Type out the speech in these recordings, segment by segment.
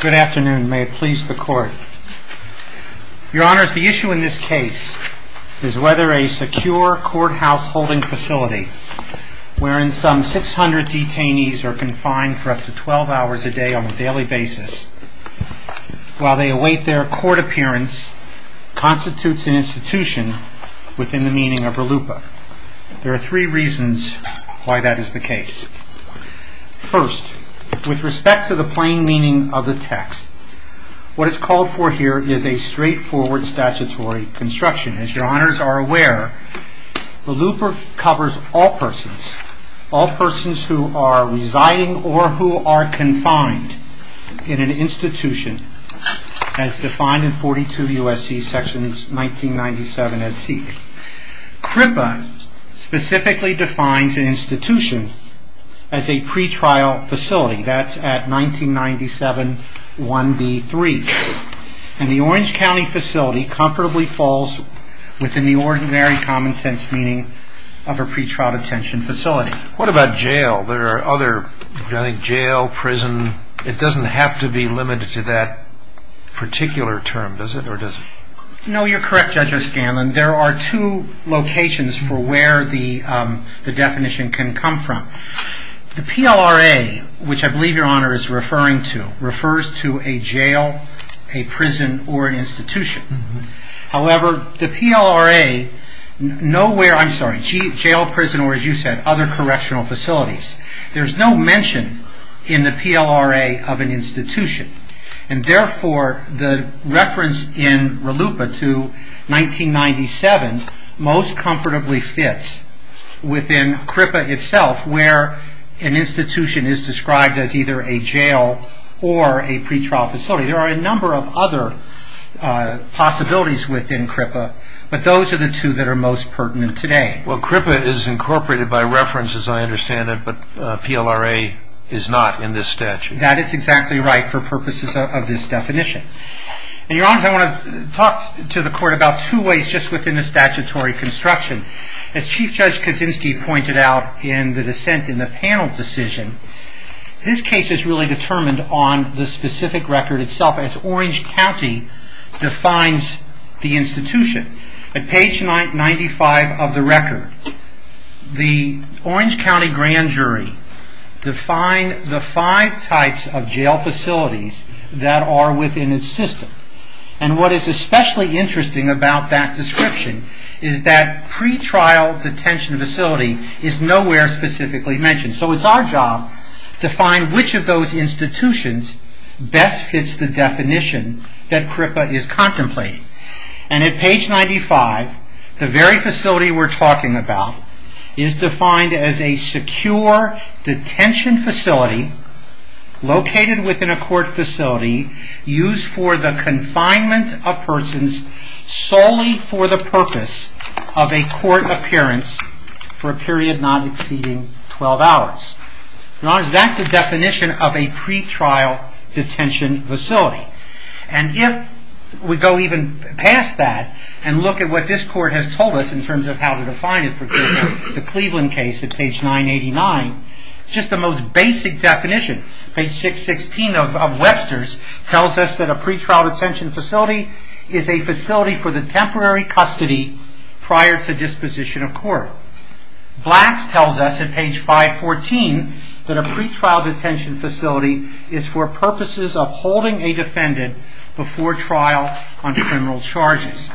Good afternoon. May it please the court. Your Honor, the issue in this case is whether a secure courthouse holding facility wherein some 600 detainees are confined for up to 12 hours a day on a daily basis while they await their court appearance constitutes an institution within the meaning of RLUIPA. There are three reasons why that is the case. First, with respect to the plain meaning of the text, what is called for here is a straightforward statutory construction. As your Honors are aware, RLUIPA covers all persons, all persons who are residing or who are confined in an institution as defined in 42 U.S.C. sections 1997 as seeked. RLUIPA specifically defines an institution as a pretrial facility. That's at 1997 1B3. And the Orange County facility comfortably falls within the ordinary common sense meaning of a pretrial detention facility. What about jail? There are other, jail, prison, it doesn't have to be limited to that particular term, does it? No, you're correct, Judge O'Scanlan. There are two locations for where the definition can come from. The PLRA, which I believe your Honor is referring to, refers to a jail, a prison, or an institution. However, the PLRA, nowhere, I'm sorry, jail, prison, or as you said, other correctional facilities, there's no mention in the PLRA of an institution. And therefore, the reference in RLUIPA to 1997 most comfortably fits within CRIPA itself where an institution is described as either a jail or a pretrial facility. There are a number of other possibilities within CRIPA, but those are the two that are most pertinent today. Well, CRIPA is incorporated by reference as I understand it, but PLRA is not in this statute. That is exactly right for purposes of this definition. Your Honor, I want to talk to the court about two ways just within the statutory construction. As Chief Judge Kaczynski pointed out in the dissent in the panel decision, this case is really determined on the specific record itself as Orange County defines the institution. At page 95 of the record, the Orange County grand jury defined the five types of jail facilities that are within its system. And what is especially interesting about that description is that pretrial detention facility is nowhere specifically mentioned. So it's our job to find which of those institutions best fits the definition that CRIPA is contemplating. And at page 95, the very facility we're talking about is defined as a secure detention facility located within a court facility used for the confinement of persons solely for the purpose of a court appearance for a period not exceeding 12 hours. That's the definition of a pretrial detention facility. And if we go even past that and look at what this court has told us in terms of how to define it, for example, the Cleveland case at page 989, just the most basic definition, page 616 of Webster's, tells us that a pretrial detention facility is a facility for the temporary custody prior to disposition of court. Black's tells us at page 514 that a pretrial detention facility is for purposes of holding a defendant before trial under criminal charges.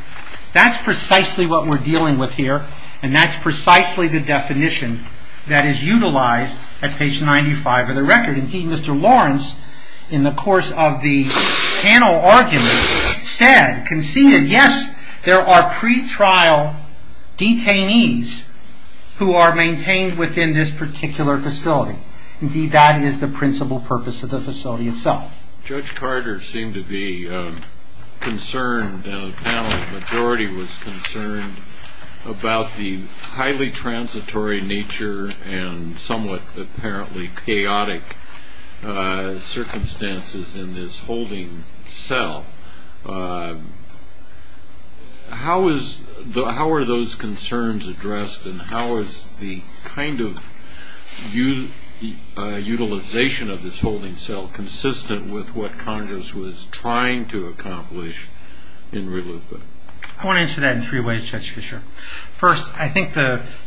That's precisely what we're dealing with here, and that's precisely the definition that is utilized at page 95 of the record. Indeed, Mr. Lawrence, in the course of the panel argument, said, conceded, yes, there are pretrial detainees who are maintained within this particular facility. Indeed, that is the principal purpose of the facility itself. Judge Carter seemed to be concerned, and a panel of the majority was concerned, about the highly transitory nature and somewhat apparently chaotic circumstances in this holding cell. How are those concerns addressed, and how is the kind of utilization of this holding cell consistent with what Congress was trying to accomplish in Relupa? I want to answer that in three ways, Judge Fischer. First, I think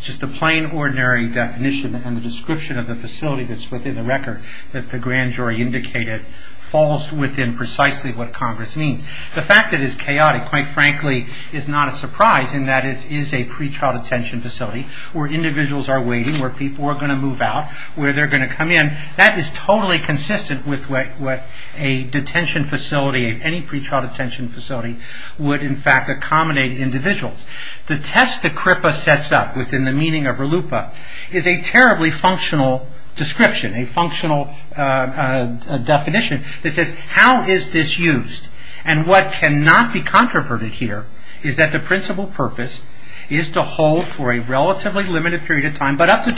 just the plain, ordinary definition and the description of the facility that's within the record that the grand jury indicated falls within precisely what Congress means. The fact that it is chaotic, quite frankly, is not a surprise in that it is a pretrial detention facility where individuals are waiting, where people are going to move out, where they're going to come in. That is totally consistent with what a detention facility, any pretrial detention facility, would in fact accommodate individuals. The test that CRIPA sets up within the meaning of Relupa is a terribly functional description, a functional definition that says, how is this used? What cannot be controverted here is that the principal purpose is to hold for a relatively limited period of time, but up to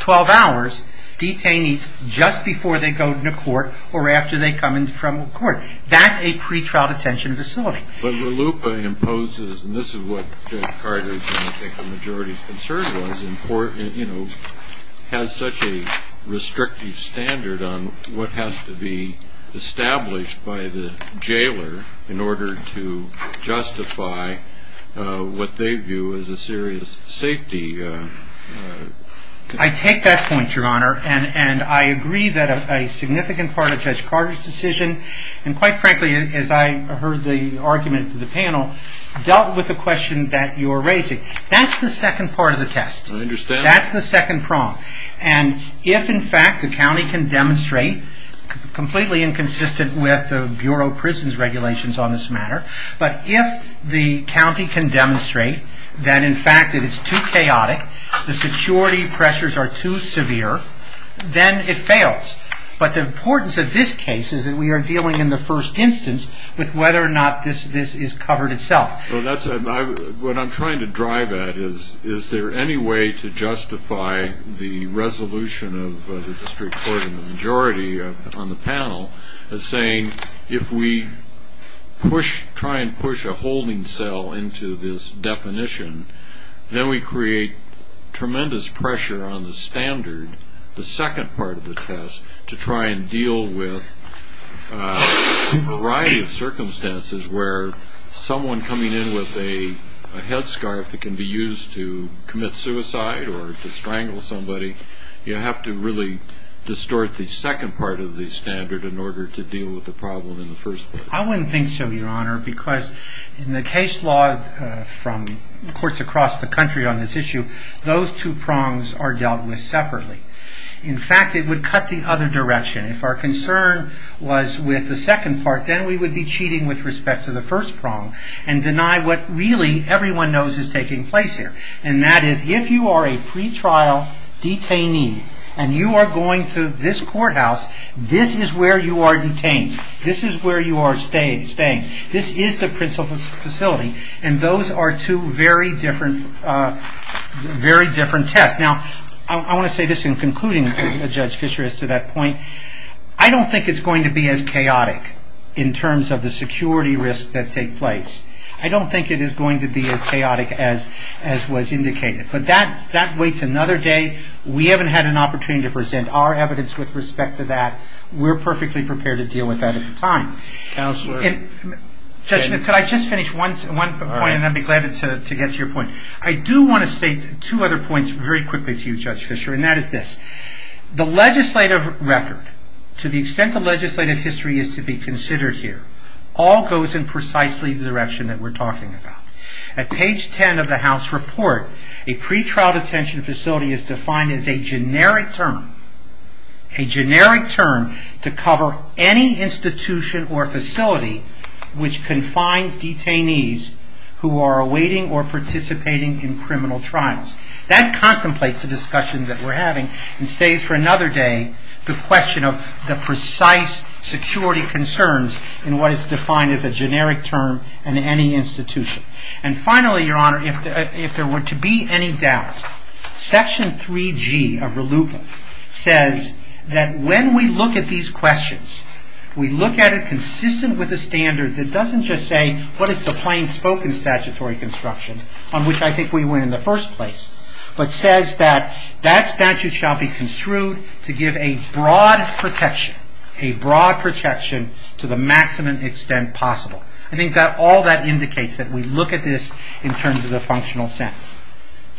12 hours, detainees just before they go to court or after they come from court. That's a pretrial detention facility. But Relupa imposes, and this is what Judge Carter's and I think the majority's concern was, has such a restrictive standard on what has to be established by the jailer in order to justify what they view as a serious safety... I take that point, Your Honor, and I agree that a significant part of Judge Carter's decision, and quite frankly, as I heard the argument of the panel, dealt with the question that you're raising. That's the second part of the test. I understand. That's the second prong. And if, in fact, the county can demonstrate, completely inconsistent with the Bureau of Prisons regulations on this matter, but if the county can demonstrate that, in fact, it is too chaotic, the security pressures are too severe, then it fails. But the importance of this case is that we are dealing in the first instance with whether or not this is covered itself. What I'm trying to drive at is, is there any way to justify the resolution of the district court and the majority on the panel as saying, if we try and push a holding cell into this definition, then we create tremendous pressure on the standard, the second part of the test, to try and deal with a variety of circumstances where someone coming in with a headscarf that can be used to commit suicide or to strangle somebody, you have to really distort the second part of the standard in order to deal with the problem in the first place. I wouldn't think so, Your Honor, because in the case law from courts across the country on this issue, those two prongs are dealt with separately. In fact, it would cut the other direction. If our concern was with the second part, then we would be cheating with respect to the first prong and deny what really everyone knows is taking place here. And that is, if you are a pretrial detainee and you are going to this courthouse, this is where you are detained. This is where you are staying. This is the principal facility, and those are two very different tests. Now, I want to say this in concluding, Judge Fischer, as to that point. I don't think it's going to be as chaotic in terms of the security risks that take place. I don't think it is going to be as chaotic as was indicated. But that waits another day. We haven't had an opportunity to present our evidence with respect to that. We're perfectly prepared to deal with that at the time. Judge, could I just finish one point, and then I'd be glad to get to your point. I do want to state two other points very quickly to you, Judge Fischer, and that is this. The legislative record, to the extent the legislative history is to be considered here, all goes in precisely the direction that we're talking about. At page 10 of the House report, a pretrial detention facility is defined as a generic term. A generic term to cover any institution or facility which confines detainees who are awaiting or participating in criminal trials. That contemplates the discussion that we're having and saves for another day the question of the precise security concerns in what is defined as a generic term in any institution. And finally, Your Honor, if there were to be any doubt, Section 3G of RLUPA says that when we look at these questions, we look at it consistent with the standards. It doesn't just say what is the plain spoken statutory construction on which I think we went in the first place, but says that that statute shall be construed to give a broad protection, a broad protection to the maximum extent possible. I think that all that indicates that we look at this in terms of the functional sense.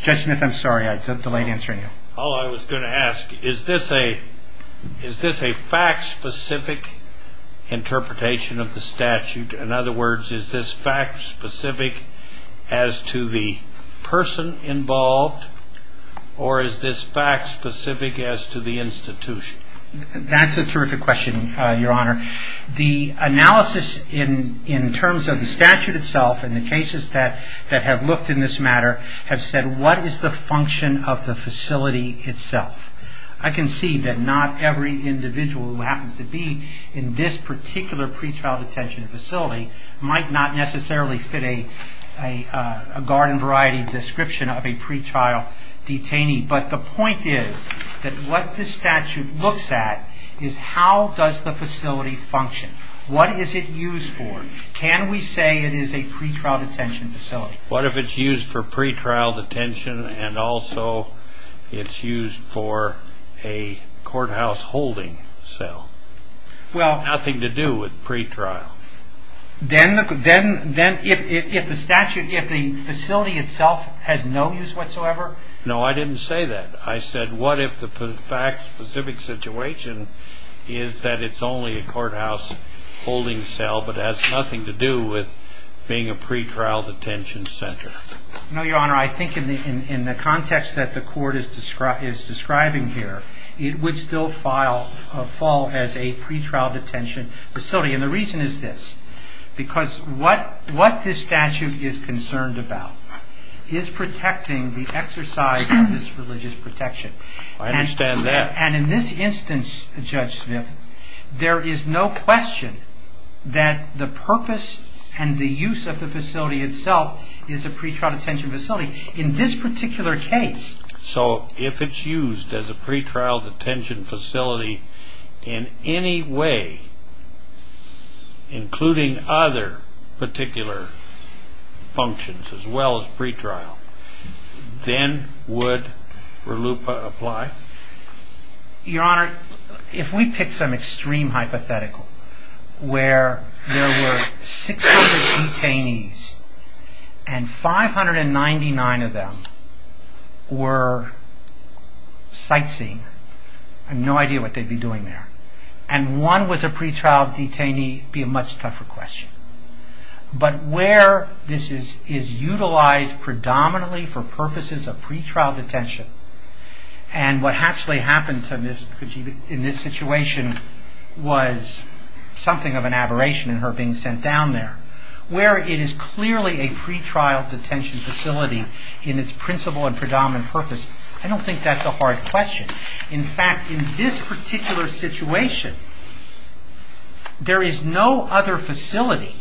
Judge Smith, I'm sorry, I delayed answering you. Oh, I was going to ask, is this a fact-specific interpretation of the statute? In other words, is this fact-specific as to the person involved, or is this fact-specific as to the institution? That's a terrific question, Your Honor. The analysis in terms of the statute itself and the cases that have looked in this matter have said, what is the function of the facility itself? I can see that not every individual who happens to be in this particular pretrial detention facility might not necessarily fit a garden variety description of a pretrial detainee. But the point is that what this statute looks at is how does the facility function? What is it used for? Can we say it is a pretrial detention facility? What if it's used for pretrial detention and also it's used for a courthouse holding cell? Nothing to do with pretrial. Then if the statute, if the facility itself has no use whatsoever? No, I didn't say that. I said what if the fact-specific situation is that it's only a courthouse holding cell but has nothing to do with being a pretrial detention center? No, Your Honor, I think in the context that the court is describing here, it would still fall as a pretrial detention facility. And the reason is this, because what this statute is concerned about is protecting the exercise of this religious protection. I understand that. And in this instance, Judge Smith, there is no question that the purpose and the use of the facility itself is a pretrial detention facility in this particular case. So if it's used as a pretrial detention facility in any way, including other particular functions as well as pretrial, then would RLUIPA apply? Your Honor, if we pick some extreme hypothetical where there were 600 detainees and 599 of them were sightseeing, I have no idea what they'd be doing there. And one was a pretrial detainee would be a much tougher question. But where this is utilized predominantly for purposes of pretrial detention and what actually happened in this situation was something of an aberration in her being sent down there, where it is clearly a pretrial detention facility in its principle and predominant purpose. I don't think that's a hard question. In fact, in this particular situation, there is no other facility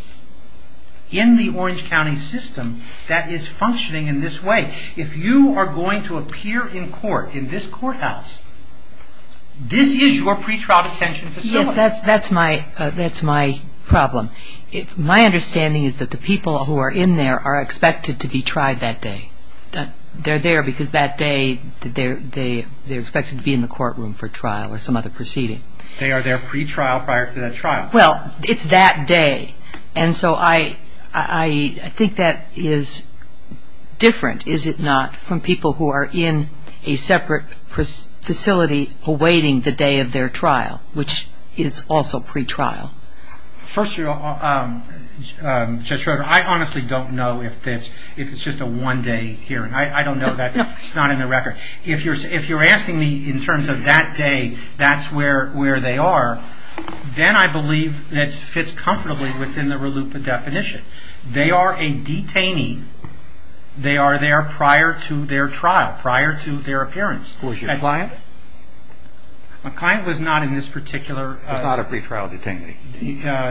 in the Orange County system that is functioning in this way. If you are going to appear in court in this courthouse, this is your pretrial detention facility. Yes, that's my problem. My understanding is that the people who are in there are expected to be tried that day. They're there because that day they're expected to be in the courtroom for trial or some other proceeding. They are there pretrial prior to that trial. Well, it's that day. And so I think that is different, is it not, from people who are in a separate facility awaiting the day of their trial, which is also pretrial. First of all, Judge Schroeder, I honestly don't know if it's just a one-day hearing. I don't know that. It's not in the record. If you're asking me in terms of that day, that's where they are, then I believe it fits comfortably within the RLUIPA definition. They are a detainee. They are there prior to their trial, prior to their appearance. Was your client? My client was not in this particular...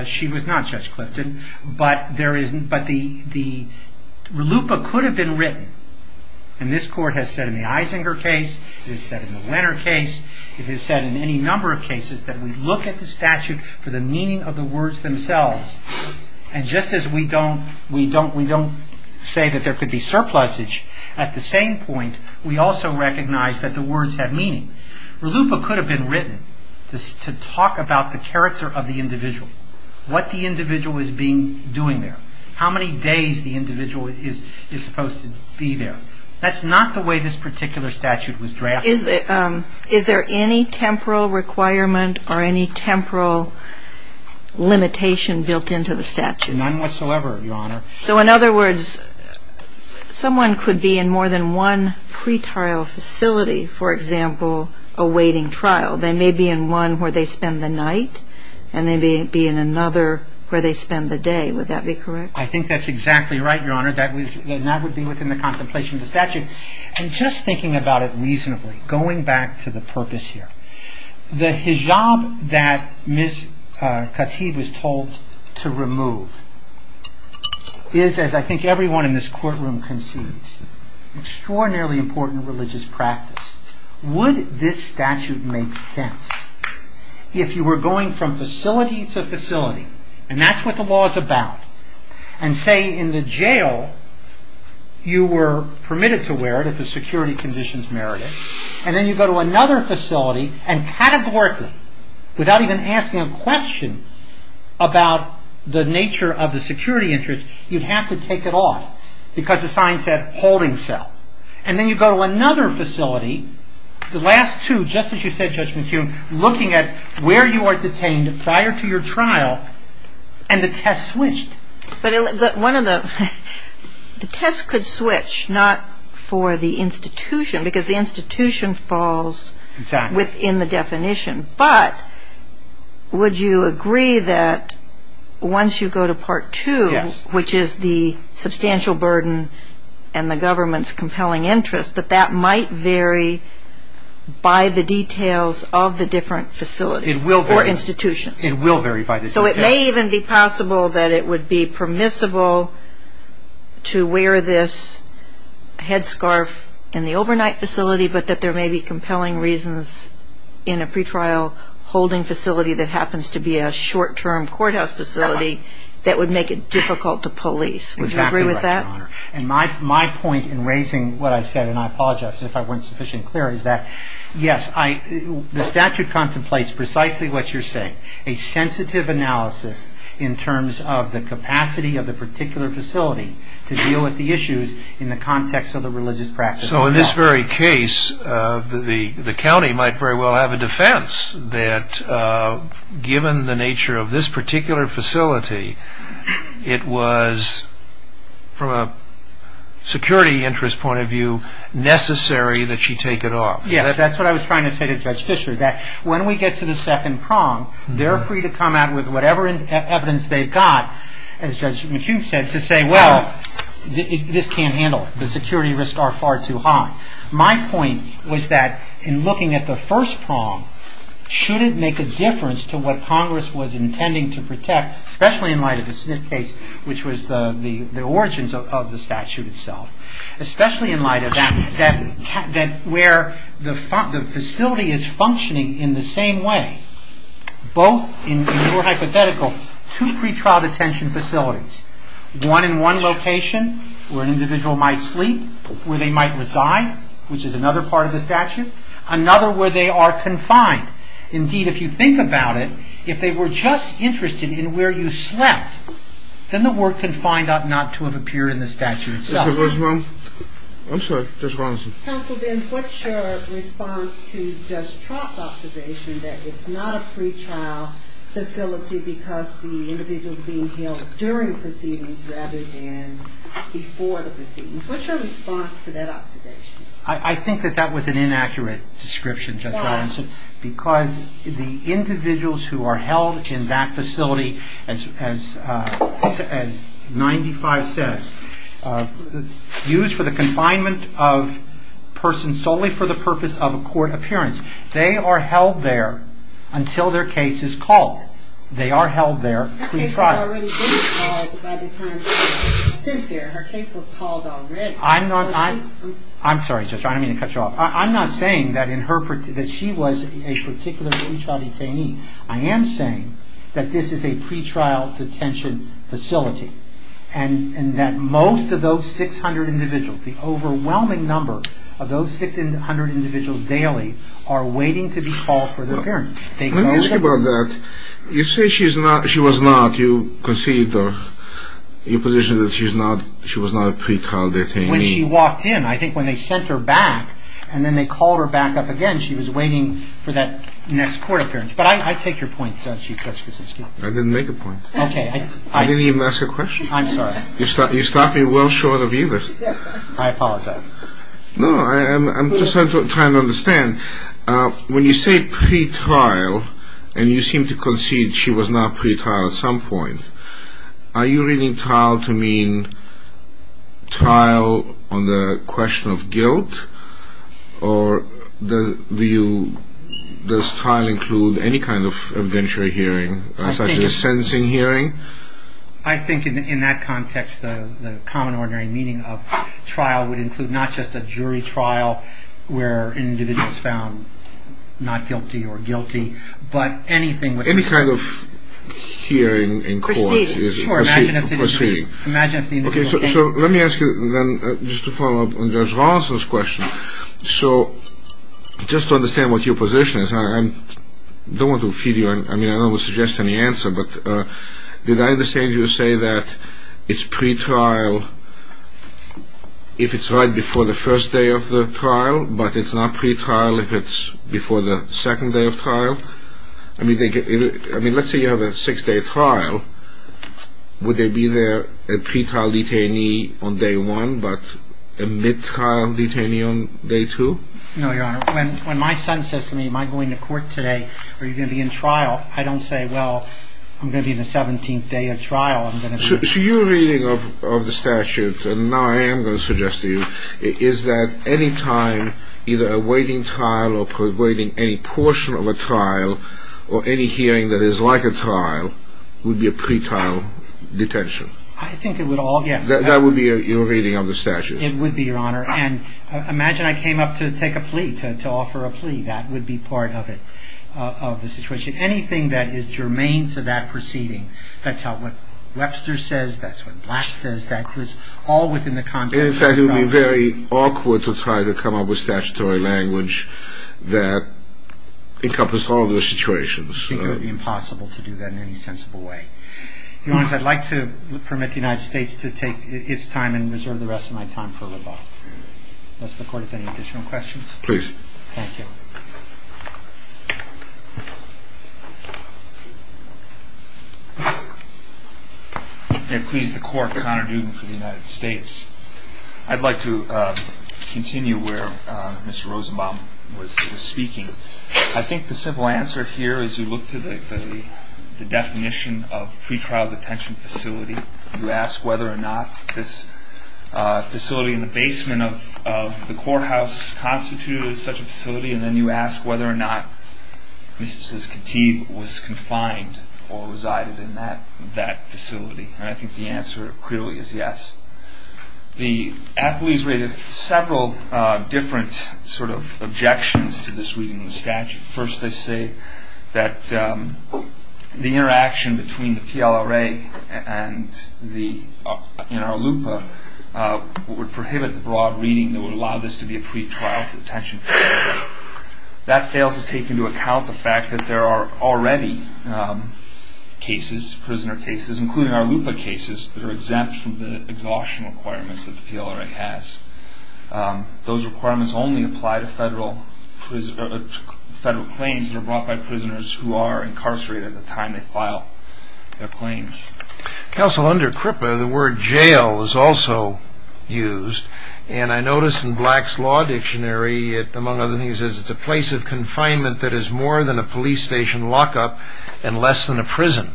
She was not Judge Clifton, but there is... But the RLUIPA could have been written, and this court has said in the Isinger case, it has said in the Lenner case, it has said in any number of cases that we look at the statute for the meaning of the words themselves. And just as we don't say that there could be surplusage, at the same point we also recognize that the words have meaning. RLUIPA could have been written to talk about the character of the individual, what the individual is doing there, how many days the individual is supposed to be there. That's not the way this particular statute was drafted. Is there any temporal requirement or any temporal limitation built into the statute? None whatsoever, Your Honor. So in other words, someone could be in more than one pretrial facility, for example, awaiting trial. They may be in one where they spend the night, and they may be in another where they spend the day. Would that be correct? I think that's exactly right, Your Honor. That would be within the contemplation of the statute. And just thinking about it reasonably, going back to the purpose here, the hijab that Ms. Katib was told to remove is, as I think everyone in this courtroom conceives, an extraordinarily important religious practice. Would this statute make sense if you were going from facility to facility, and that's what the law is about, and say in the jail you were permitted to wear it if the security conditions merited it, and then you go to another facility, and categorically, without even asking a question about the nature of the security interest, you'd have to take it off. Because the sign said, holding cell. And then you go to another facility, the last two, just as you said, Judge McHugh, looking at where you are detained prior to your trial, and the test switched. But the test could switch, not for the institution, because the institution falls within the definition. But would you agree that once you go to Part 2, which is the substantial burden and the government's compelling interest, that that might vary by the details of the different facilities or institutions? It will vary by the details. So it may even be possible that it would be permissible to wear this headscarf in the overnight facility, but that there may be compelling reasons in a pretrial holding facility that happens to be a short-term courthouse facility that would make it difficult to police. Would you agree with that? Exactly right, Your Honor. And my point in raising what I said, and I apologize if I weren't sufficiently clear, is that, yes, the statute contemplates precisely what you're saying, a sensitive analysis in terms of the capacity of the particular facility to deal with the issues in the context of the religious practice itself. So in this very case, the county might very well have a defense that given the nature of this particular facility, it was, from a security interest point of view, necessary that she take it off. Yes, that's what I was trying to say to Judge Fischer, that when we get to the second prong, they're free to come out with whatever evidence they've got, as Judge McHugh said, to say, well, this can't handle it. The security risks are far too high. My point was that in looking at the first prong, should it make a difference to what Congress was intending to protect, especially in light of the Smith case, which was the origins of the statute itself, especially in light of where the facility is functioning in the same way, both, in your hypothetical, two pretrial detention facilities, one in one location, where an individual might sleep, where they might reside, which is another part of the statute, another where they are confined. Indeed, if you think about it, if they were just interested in where you slept, then the work could find out not to have appeared in the statute itself. Mr. Rosenbaum? I'm sorry, Judge Robinson. Counsel, then, what's your response to Judge Trott's observation that it's not a pretrial facility during proceedings rather than before the proceedings? What's your response to that observation? I think that that was an inaccurate description, Judge Robinson, because the individuals who are held in that facility, as 95 says, used for the confinement of persons solely for the purpose of a court appearance, they are held there until their case is called. They are held there. Her case had already been called by the time she was sent there. Her case was called already. I'm sorry, Judge. I don't mean to cut you off. I'm not saying that she was a particular pretrial detainee. I am saying that this is a pretrial detention facility and that most of those 600 individuals, the overwhelming number of those 600 individuals daily are waiting to be called for their appearance. Let me ask you about that. You say she was not. When she walked in, I think when they sent her back and then they called her back up again, she was waiting for that next court appearance. But I take your point, Chief Judge Kosinski. I didn't make a point. Okay. I didn't even ask a question. I'm sorry. You start me well short of either. I apologize. No, I'm just trying to understand. When you say pretrial and you seem to concede she was not pretrial at some point, are you reading trial to mean trial on the question of guilt? Or does trial include any kind of evidentiary hearing, such as sentencing hearing? I think in that context, the common ordinary meaning of trial would include not just a jury trial where an individual is found not guilty or guilty, but anything with... Proceeding. Proceeding. Okay. So let me ask you then just to follow up on Judge Rolison's question. So just to understand what your position is, I don't want to feed you, I mean, I don't want to suggest any answer, but did I understand you to say that it's pretrial if it's right before the first day of the trial, but it's not pretrial if it's before the second day of trial? I mean, let's say you have a six-day trial. Would there be there a pretrial detainee on day one but a mid-trial detainee on day two? No, Your Honor. When my son says to me, am I going to court today or are you going to be in trial, I don't say, well, I'm going to be in the 17th day of trial. I'm going to be... So your reading of the statute, and now I am going to suggest to you, is that any time either awaiting trial or awaiting any portion of a trial or any hearing that is like a trial would be a pretrial detention. I think it would all get... That would be your reading of the statute. It would be, Your Honor. And imagine I came up to take a plea, to offer a plea. That would be part of it, of the situation. Anything that is germane to that proceeding, that's what Webster says, that's what Black says, that was all within the context... In fact, it would be very awkward to try to come up with statutory language that encompassed all of those situations. I think it would be impossible to do that in any sensible way. Your Honor, I'd like to permit the United States to take its time and reserve the rest of my time for rebuttal. Unless the Court has any additional questions? Please. Thank you. May it please the Court, Mr. O'Connor Duden for the United States. I'd like to continue where Mr. Rosenbaum was speaking. I think the simple answer here is you look to the definition of pretrial detention facility. You ask whether or not this facility in the basement of the courthouse constitutes such a facility, and then you ask whether or not Mrs. Katib was confined or resided in that facility. And I think the answer clearly is yes. The athletes raised several different sort of objections to this reading of the statute. First, they say that the interaction between the PLRA and the NRLUPA would prohibit the broad reading that would allow this to be a pretrial detention facility. That fails to take into account the fact that there are already cases, prisoner cases, including NRLUPA cases, that are exempt from the exhaustion requirements that the PLRA has. Those requirements only apply to federal claims that are brought by prisoners who are incarcerated at the time they file their claims. Counsel, under CRIPA, the word jail is also used, and I noticed in Black's Law Dictionary, among other things, it says it's a place of confinement that is more than a police station lockup and less than a prison.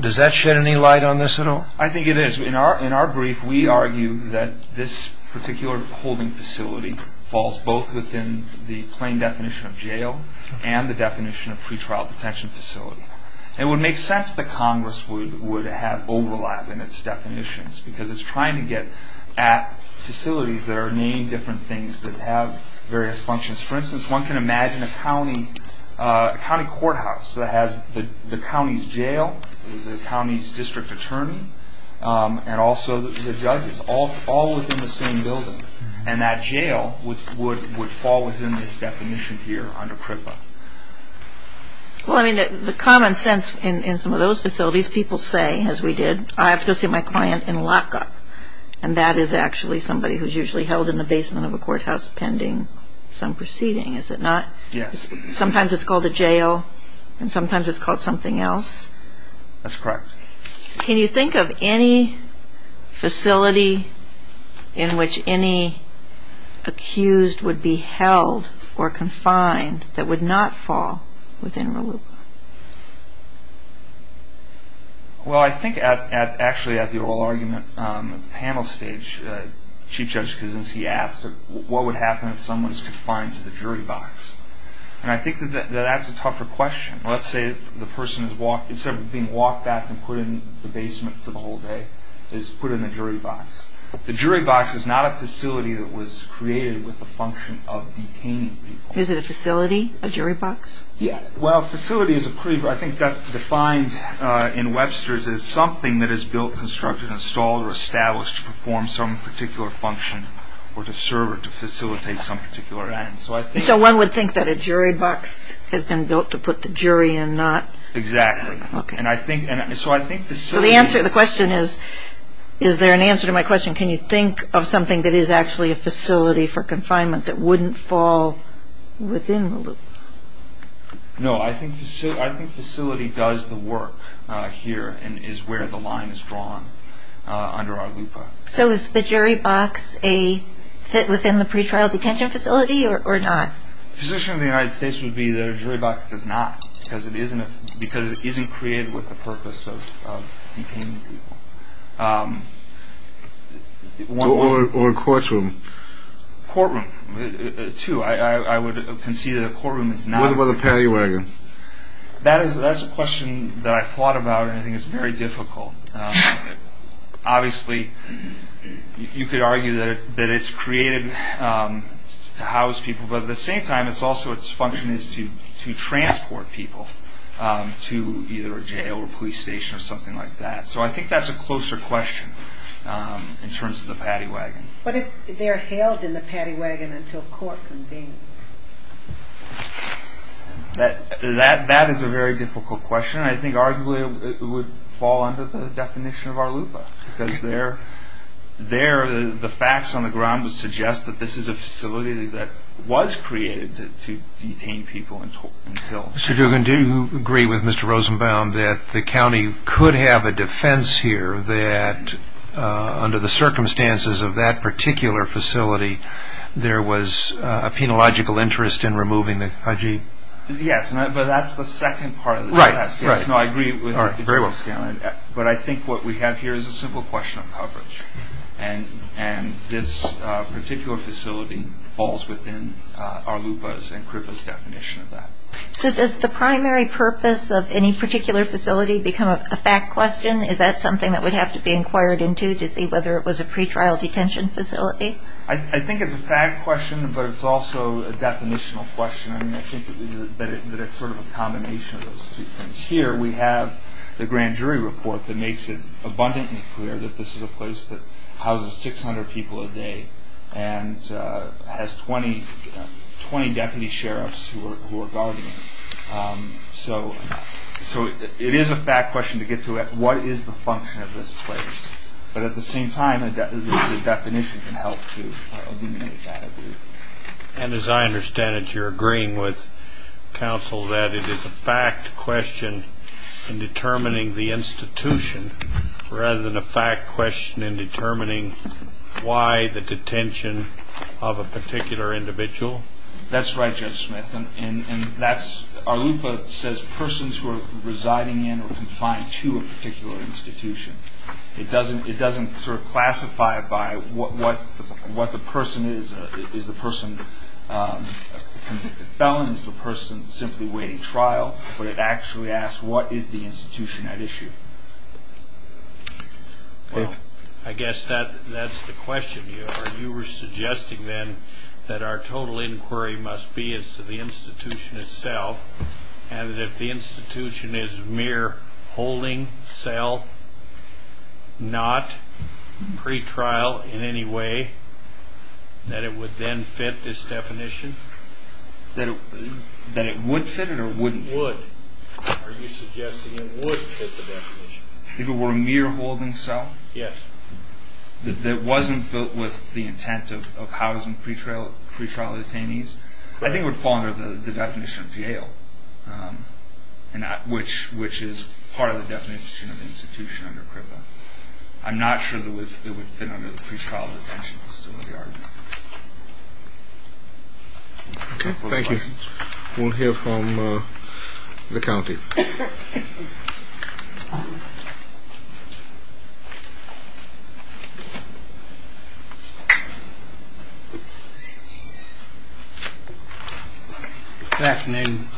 Does that shed any light on this at all? I think it is. In our brief, we argue that this particular holding facility falls both within the plain definition of jail and the definition of pretrial detention facility. It would make sense that Congress would have overlap in its definitions because it's trying to get at facilities that are named different things that have various functions. For instance, one can imagine a county courthouse that has the county's jail, the county's district attorney, and also the judges all within the same building, and that jail would fall within this definition here under CRIPA. The common sense in some of those facilities, people say, as we did, I have to go see my client in a lockup, and that is actually somebody who's usually held in the basement of a courthouse pending some proceeding, is it not? Yes. Sometimes it's called a jail, and sometimes it's called something else. That's correct. Can you think of any facility in which any accused would be held or confined that would not fall within RLUPA? Well, I think actually at the oral argument panel stage, Chief Judge Kuznetski asked what would happen if someone was confined to the jury box. And I think that that's a tougher question. Let's say the person, instead of being walked back and put in the basement for the whole day, is put in the jury box. The jury box is not a facility that was created with the function of detaining people. Is it a facility, a jury box? Yes. Well, a facility is a pretty – I think that's defined in Webster's as something that is built, constructed, installed, or established to perform some particular function or to serve or to facilitate some particular end. So one would think that a jury box has been built to put the jury in, not – Exactly. Okay. And I think – so I think the – So the answer – the question is, is there an answer to my question? Can you think of something that is actually a facility for confinement that wouldn't fall within RLUPA? No. I think facility does the work here and is where the line is drawn under RLUPA. So is the jury box a – within the pretrial detention facility or not? The position of the United States would be that a jury box does not because it isn't created with the purpose of detaining people. Or a courtroom. Courtroom, too. I would concede that a courtroom is not – What about the pay wagon? That's a question that I've thought about and I think is very difficult. Obviously, you could argue that it's created to house people, but at the same time it's also its function is to transport people to either a jail or a police station or something like that. So I think that's a closer question in terms of the pay wagon. But they're held in the pay wagon until court convenes. That is a very difficult question. I think arguably it would fall under the definition of RLUPA because the facts on the ground would suggest that this is a facility that was created to detain people until – Mr. Duggan, do you agree with Mr. Rosenbaum that the county could have a defense here that under the circumstances of that particular facility there was a penological interest in removing the Fiji? Yes, but that's the second part of the question. No, I agree with you, Mr. Scanlon, but I think what we have here is a simple question of coverage and this particular facility falls within RLUPA's and CRIPA's definition of that. So does the primary purpose of any particular facility become a fact question? Is that something that would have to be inquired into to see whether it was a pretrial detention facility? I think it's a fact question, but it's also a definitional question. I think that it's sort of a combination of those two things. Here we have the grand jury report that makes it abundantly clear that this is a place that houses 600 people a day and has 20 deputy sheriffs who are guarding it. So it is a fact question to get to what is the function of this place, but at the same time the definition can help to eliminate that. And as I understand it, you're agreeing with counsel that it is a fact question in determining the institution rather than a fact question in determining why the detention of a particular individual? That's right, Judge Smith, and RLUPA says persons who are residing in or confined to a particular institution. It doesn't sort of classify it by what the person is. Is the person a convicted felon? Is the person simply waiting trial? But it actually asks what is the institution at issue? Well, I guess that's the question. You were suggesting then that our total inquiry must be as to the institution itself and that if the institution is mere holding cell, not pretrial in any way, that it would then fit this definition? That it would fit it or wouldn't? Would. Are you suggesting it would fit the definition? If it were a mere holding cell? Yes. That wasn't filled with the intent of housing pretrial detainees? I think it would fall under the definition of jail, which is part of the definition of institution under CRIPA. I'm not sure that it would fit under the pretrial detention facility argument. Okay, thank you. We'll hear from the county. Good afternoon.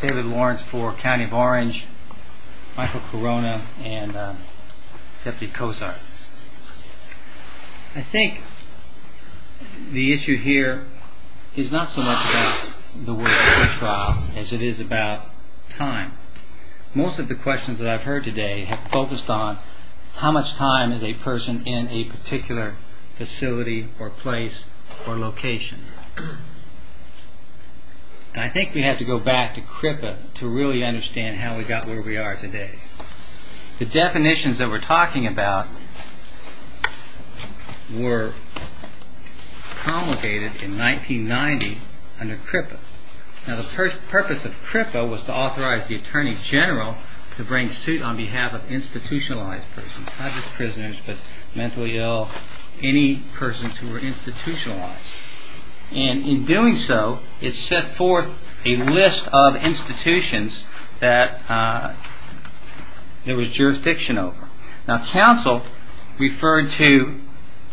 David Lawrence for County of Orange. Michael Corona and Deputy Cozart. I think the issue here is not so much about the word pretrial as it is about time. Most of the questions that I've heard today have focused on how much time is a person in a particular facility or place or location? I think we have to go back to CRIPA to really understand how we got where we are today. The definitions that we're talking about were promulgated in 1990 under CRIPA. Now the purpose of CRIPA was to authorize the Attorney General to bring suit on behalf of institutionalized persons. Not just prisoners, but mentally ill, any persons who were institutionalized. In doing so, it set forth a list of institutions that there was jurisdiction over. Council referred to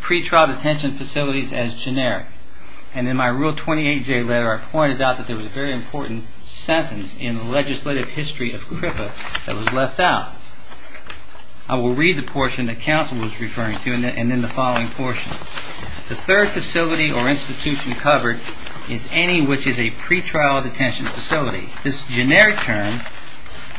pretrial detention facilities as generic. In my Rule 28J letter, I pointed out that there was a very important sentence in the legislative history of CRIPA that was left out. I will read the portion that Council was referring to and then the following portion. The third facility or institution covered is any which is a pretrial detention facility. This generic term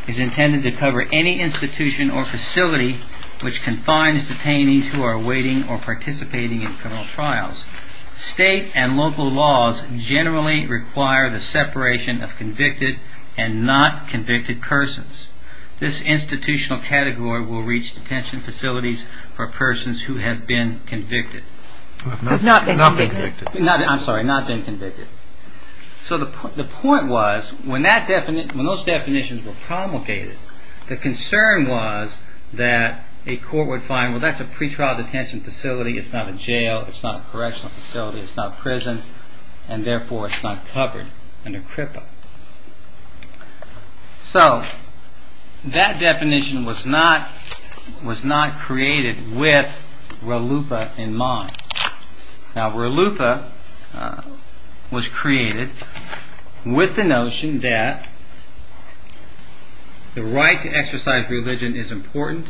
is intended to cover any institution or facility which confines detainees who are awaiting or participating in criminal trials. State and local laws generally require the separation of convicted and not convicted persons. This institutional category will reach detention facilities for persons who have been convicted. Who have not been convicted. I'm sorry, not been convicted. So the point was, when those definitions were promulgated, the concern was that a court would find, well that's a pretrial detention facility, it's not a jail, it's not a correctional facility, it's not prison, and therefore it's not covered under CRIPA. So that definition was not created with RLUIPA in mind. Now RLUIPA was created with the notion that the right to exercise religion is important,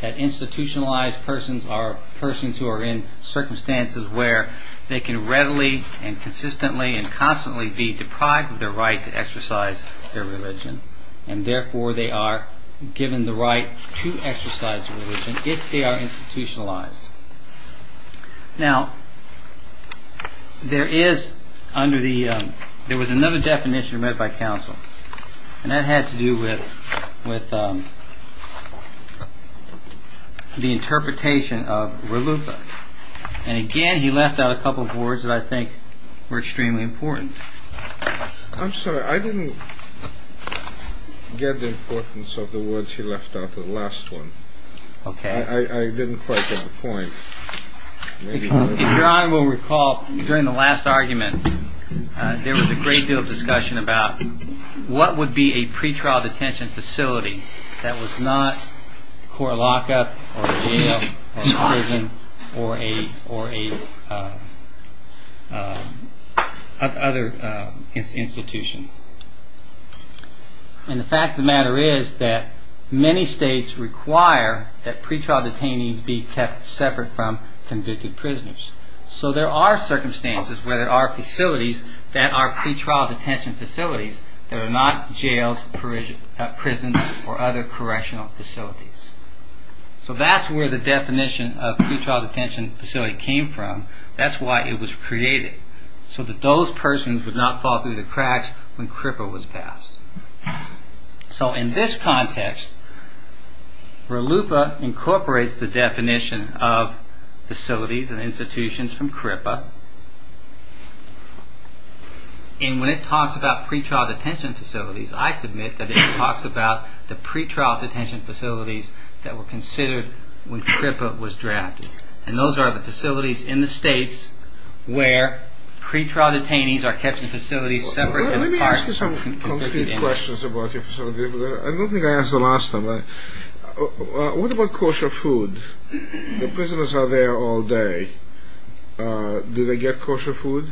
that institutionalized persons are persons who are in circumstances where they can readily and consistently and constantly be deprived of their right to exercise their religion and therefore they are given the right to exercise their religion if they are institutionalized. Now, there was another definition read by counsel, and that had to do with the interpretation of RLUIPA. And again he left out a couple of words that I think were extremely important. I'm sorry, I didn't get the importance of the words he left out in the last one. I didn't quite get the point. If Your Honor will recall, during the last argument, there was a great deal of discussion about what would be a pretrial detention facility that was not court lock-up or jail or prison or other institution. And the fact of the matter is that many states require that pretrial detainees be kept separate from convicted prisoners. So there are circumstances where there are facilities that are pretrial detention facilities that are not jails, prisons or other correctional facilities. So that's where the definition of pretrial detention facility came from. That's why it was created. So that those persons would not fall through the cracks when CRIPA was passed. So in this context, RLUIPA incorporates the definition of facilities and institutions from CRIPA. And when it talks about pretrial detention facilities, I submit that it talks about the pretrial detention facilities that were considered when CRIPA was drafted. And those are the facilities in the states where pretrial detainees are kept in facilities separate from convicted inmates. Let me ask you some concrete questions about your facility. I don't think I asked the last time. What about kosher food? The prisoners are there all day. Do they get kosher food?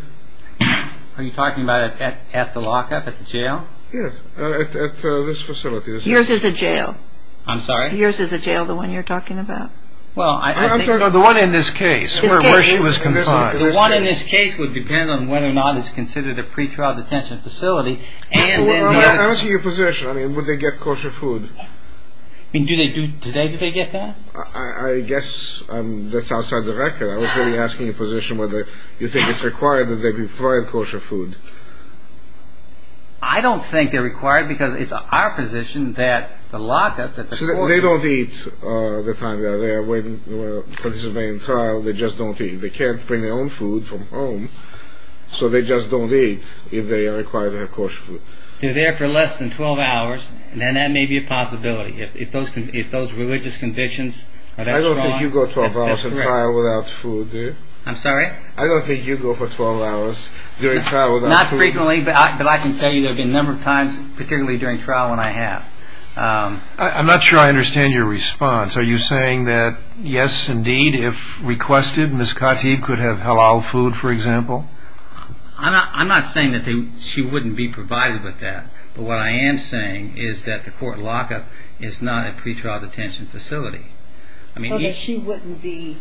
Are you talking about at the lock-up, at the jail? Yes, at this facility. Yours is a jail. I'm sorry? Yours is a jail, the one you're talking about. I'm talking about the one in this case where she was confined. The one in this case would depend on whether or not it's considered a pretrial detention facility. I don't see your position. Would they get kosher food? Do they get that? I guess that's outside the record. I was really asking your position whether you think it's required that they be provided kosher food. I don't think they're required because it's our position that the lock-up... They don't eat the time they are there. When they're participating in trial, they just don't eat. They can't bring their own food from home, so they just don't eat if they are required to have kosher food. They're there for less than 12 hours, and that may be a possibility. If those religious convictions are that strong... I don't think you go 12 hours in trial without food, do you? I'm sorry? I don't think you go for 12 hours during trial without food. Not frequently, but I can tell you there have been a number of times, particularly during trial, when I have. I'm not sure I understand your response. Are you saying that, yes, indeed, if requested, Ms. Khatib could have halal food, for example? I'm not saying that she wouldn't be provided with that. But what I am saying is that the court lock-up is not a pretrial detention facility. So that she wouldn't be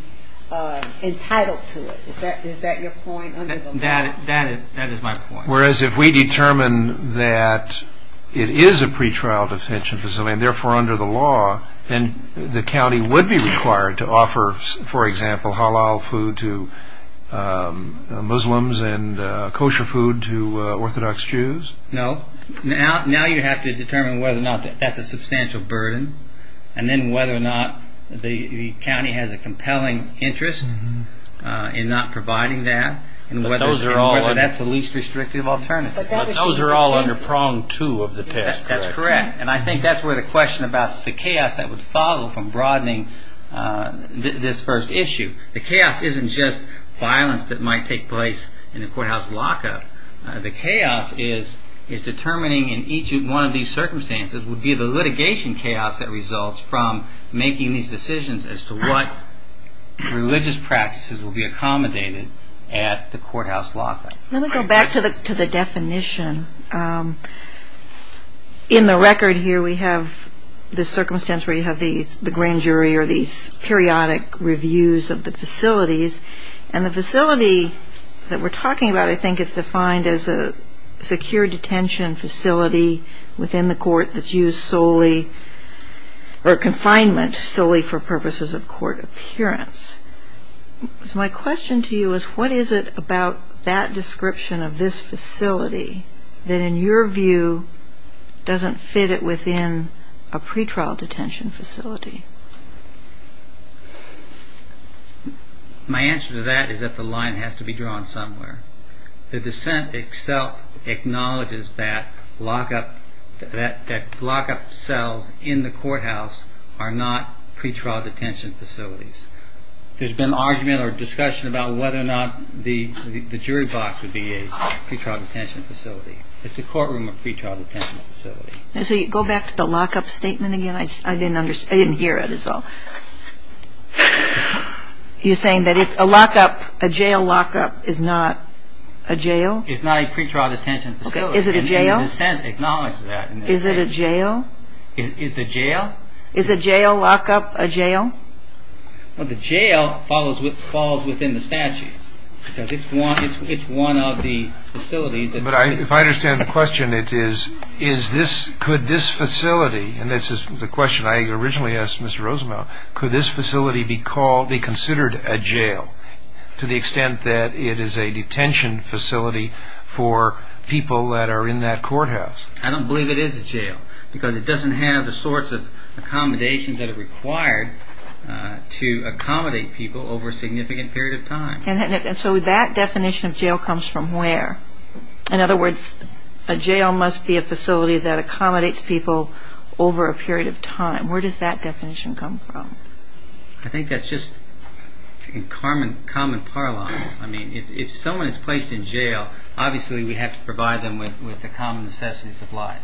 entitled to it. Is that your point? That is my point. Whereas if we determine that it is a pretrial detention facility, and therefore under the law, then the county would be required to offer, for example, halal food to Muslims and kosher food to Orthodox Jews? No. Now you have to determine whether or not that's a substantial burden, and then whether or not the county has a compelling interest in not providing that, and whether that's the least restrictive alternative. But those are all under prong two of the test, correct? That's correct. And I think that's where the question about the chaos that would follow from broadening this first issue. The chaos isn't just violence that might take place in a courthouse lock-up. The chaos is determining, in each one of these circumstances, would be the litigation chaos that results from making these decisions as to what religious practices will be accommodated at the courthouse lock-up. Let me go back to the definition. In the record here we have the circumstance where you have the grand jury or these periodic reviews of the facilities. And the facility that we're talking about, I think, is defined as a secure detention facility within the court that's used solely, or confinement solely for purposes of court appearance. So my question to you is what is it about that description of this facility that in your view doesn't fit it within a pretrial detention facility? My answer to that is that the line has to be drawn somewhere. The dissent itself acknowledges that lock-up cells in the courthouse are not pretrial detention facilities. There's been argument or discussion about whether or not the jury box would be a pretrial detention facility. It's a courtroom or pretrial detention facility. Go back to the lock-up statement again. I didn't hear it at all. You're saying that it's a lock-up, a jail lock-up is not a jail? It's not a pretrial detention facility. Is it a jail? And the dissent acknowledges that. Is it a jail? It's a jail. Is a jail lock-up a jail? Well, the jail falls within the statute because it's one of the facilities. But if I understand the question, it is could this facility, and this is the question I originally asked Mr. Rosenbaum, could this facility be considered a jail to the extent that it is a detention facility for people that are in that courthouse? I don't believe it is a jail because it doesn't have the sorts of accommodations that are required to accommodate people over a significant period of time. And so that definition of jail comes from where? In other words, a jail must be a facility that accommodates people over a period of time. Where does that definition come from? I think that's just common parlance. I mean, if someone is placed in jail, obviously we have to provide them with the common necessities of life.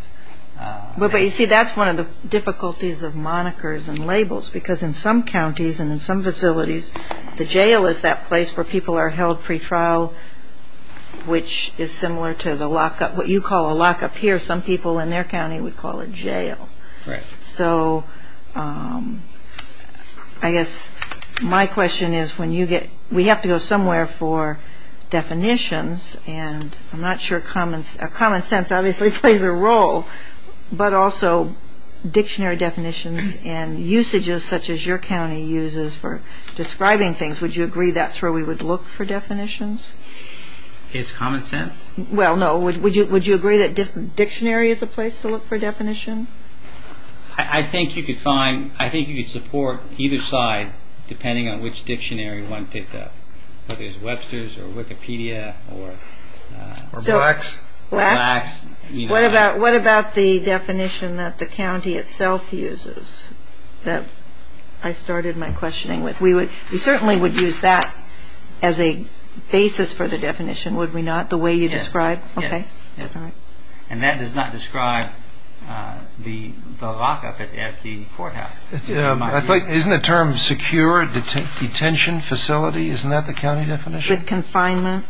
But, you see, that's one of the difficulties of monikers and labels because in some counties and in some facilities, the jail is that place where people are held pretrial, which is similar to the lockup, what you call a lockup here. Some people in their county would call it jail. So I guess my question is when you get, we have to go somewhere for definitions and I'm not sure common sense obviously plays a role, but also dictionary definitions and usages such as your county uses for describing things. Would you agree that's where we would look for definitions? It's common sense. Well, no, would you agree that dictionary is a place to look for definition? I think you could find, I think you could support either side depending on which dictionary one picked up, whether it's Webster's or Wikipedia or... Or Blacks. What about the definition that the county itself uses that I started my questioning with? We certainly would use that as a basis for the definition, would we not, the way you describe? Yes. And that does not describe the lockup at the courthouse. Isn't the term secure detention facility, isn't that the county definition? With confinement?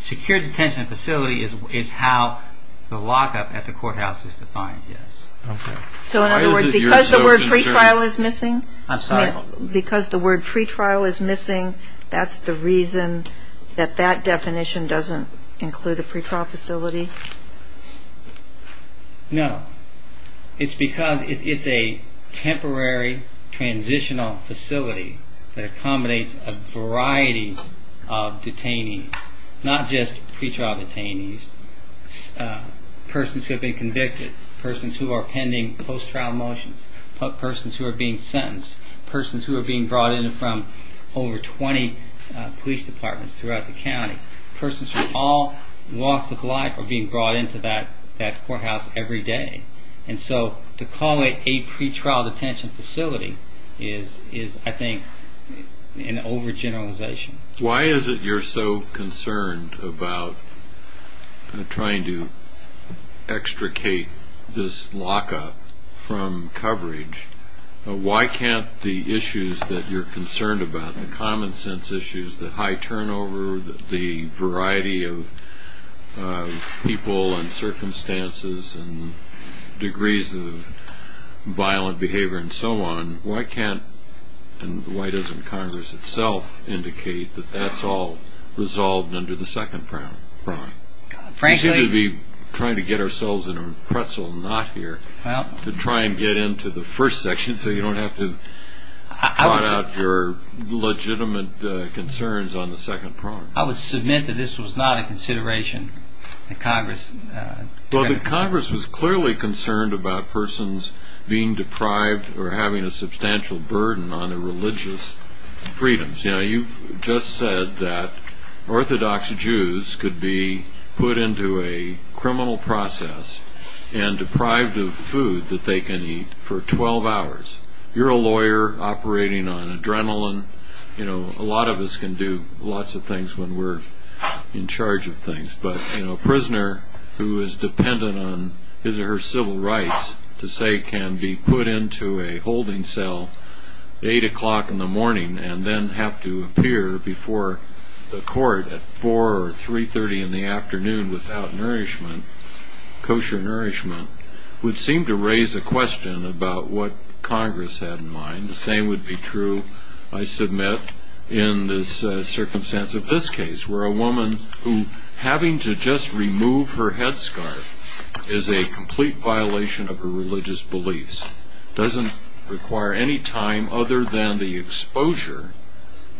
Secure detention facility is how the lockup at the courthouse is defined, yes. Okay. So in other words, because the word pre-trial is missing... I'm sorry. Because the word pre-trial is missing, that's the reason that that definition doesn't include a pre-trial facility? No. It's because it's a temporary transitional facility that accommodates a variety of detainees, not just pre-trial detainees, persons who have been convicted, persons who are pending post-trial motions, persons who are being sentenced, persons who are being brought in from over 20 police departments throughout the county, persons who are all lost of life or being brought into that courthouse every day. And so to call it a pre-trial detention facility is, I think, an overgeneralization. Why is it you're so concerned about trying to extricate this lockup from coverage? Why can't the issues that you're concerned about, the common sense issues, the high turnover, the variety of people and circumstances and degrees of violent behavior and so on, why can't and why doesn't Congress itself indicate that that's all resolved under the second prong? Frankly... We seem to be trying to get ourselves in a pretzel knot here to try and get into the first section so you don't have to trot out your legitimate concerns on the second prong. I would submit that this was not a consideration that Congress... Well, that Congress was clearly concerned about persons being deprived or having a substantial burden on their religious freedoms. You know, you've just said that Orthodox Jews could be put into a criminal process and deprived of food that they can eat for 12 hours. You're a lawyer operating on adrenaline. You know, a lot of us can do lots of things when we're in charge of things. But, you know, a prisoner who is dependent on his or her civil rights to say can be put into a holding cell at 8 o'clock in the morning and then have to appear before the court at 4 or 3.30 in the afternoon without nourishment, kosher nourishment, would seem to raise a question about what Congress had in mind. The same would be true, I submit, in the circumstance of this case where a woman who having to just remove her headscarf is a complete violation of her religious beliefs, doesn't require any time other than the exposure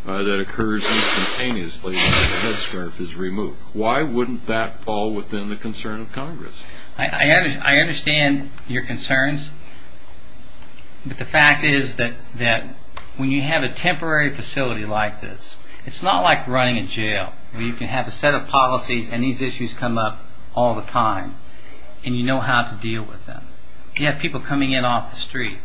that occurs instantaneously when the headscarf is removed. Why wouldn't that fall within the concern of Congress? I understand your concerns, but the fact is that when you have a temporary facility like this, it's not like running a jail where you can have a set of policies and these issues come up all the time and you know how to deal with them. You have people coming in off the street.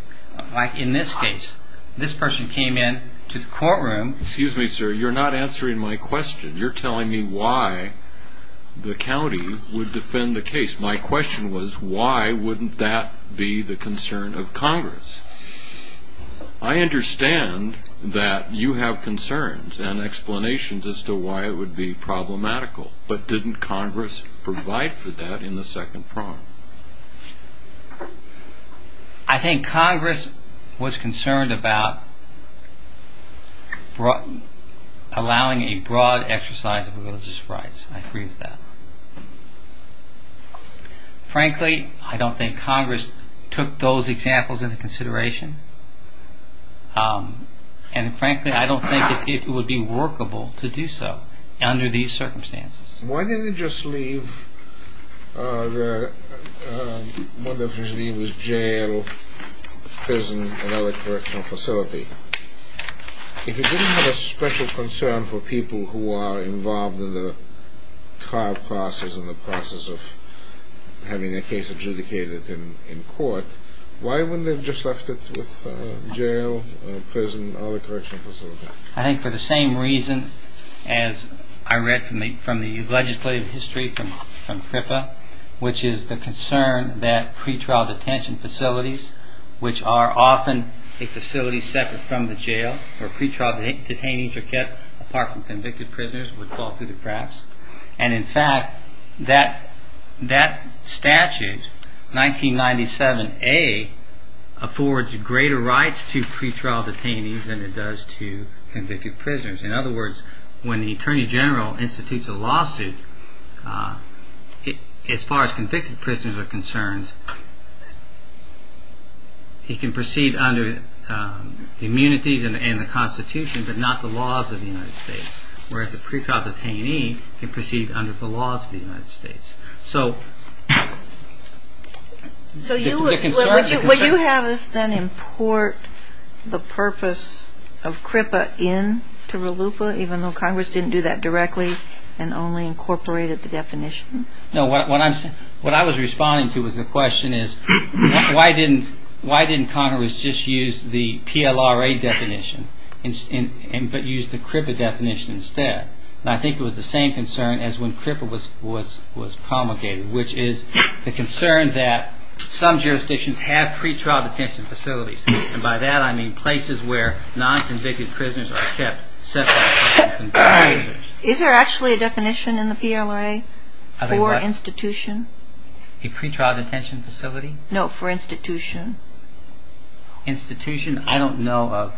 Like in this case, this person came in to the courtroom. Excuse me, sir, you're not answering my question. You're telling me why the county would defend the case. My question was why wouldn't that be the concern of Congress? I understand that you have concerns and explanations as to why it would be problematical, but didn't Congress provide for that in the second prong? I think Congress was concerned about allowing a broad exercise of religious rights. I agree with that. Frankly, I don't think Congress took those examples into consideration and frankly, I don't think it would be workable to do so under these circumstances. Why didn't it just leave the jail, prison, and other correctional facility? If it didn't have a special concern for people who are involved in the trial process and the process of having their case adjudicated in court, why wouldn't they have just left it with jail, prison, and other correctional facilities? I think for the same reason as I read from the legislative history from CRIPA, which is the concern that pretrial detention facilities, which are often a facility separate from the jail, where pretrial detainees are kept apart from convicted prisoners, would fall through the cracks. In fact, that statute, 1997A, affords greater rights to pretrial detainees than it does to convicted prisoners. In other words, when the Attorney General institutes a lawsuit, as far as convicted prisoners are concerned, he can proceed under the immunities and the Constitution, but not the laws of the United States. Whereas a pretrial detainee can proceed under the laws of the United States. So what you have is then import the purpose of CRIPA into RLUPA, even though Congress didn't do that directly and only incorporated the definition? No, what I was responding to was the question is, why didn't Congress just use the PLRA definition, but use the CRIPA definition instead? And I think it was the same concern as when CRIPA was promulgated, which is the concern that some jurisdictions have pretrial detention facilities, and by that I mean places where non-convicted prisoners are kept separate from convicted prisoners. Is there actually a definition in the PLRA for institution? A pretrial detention facility? No, for institution. Institution? I don't know of.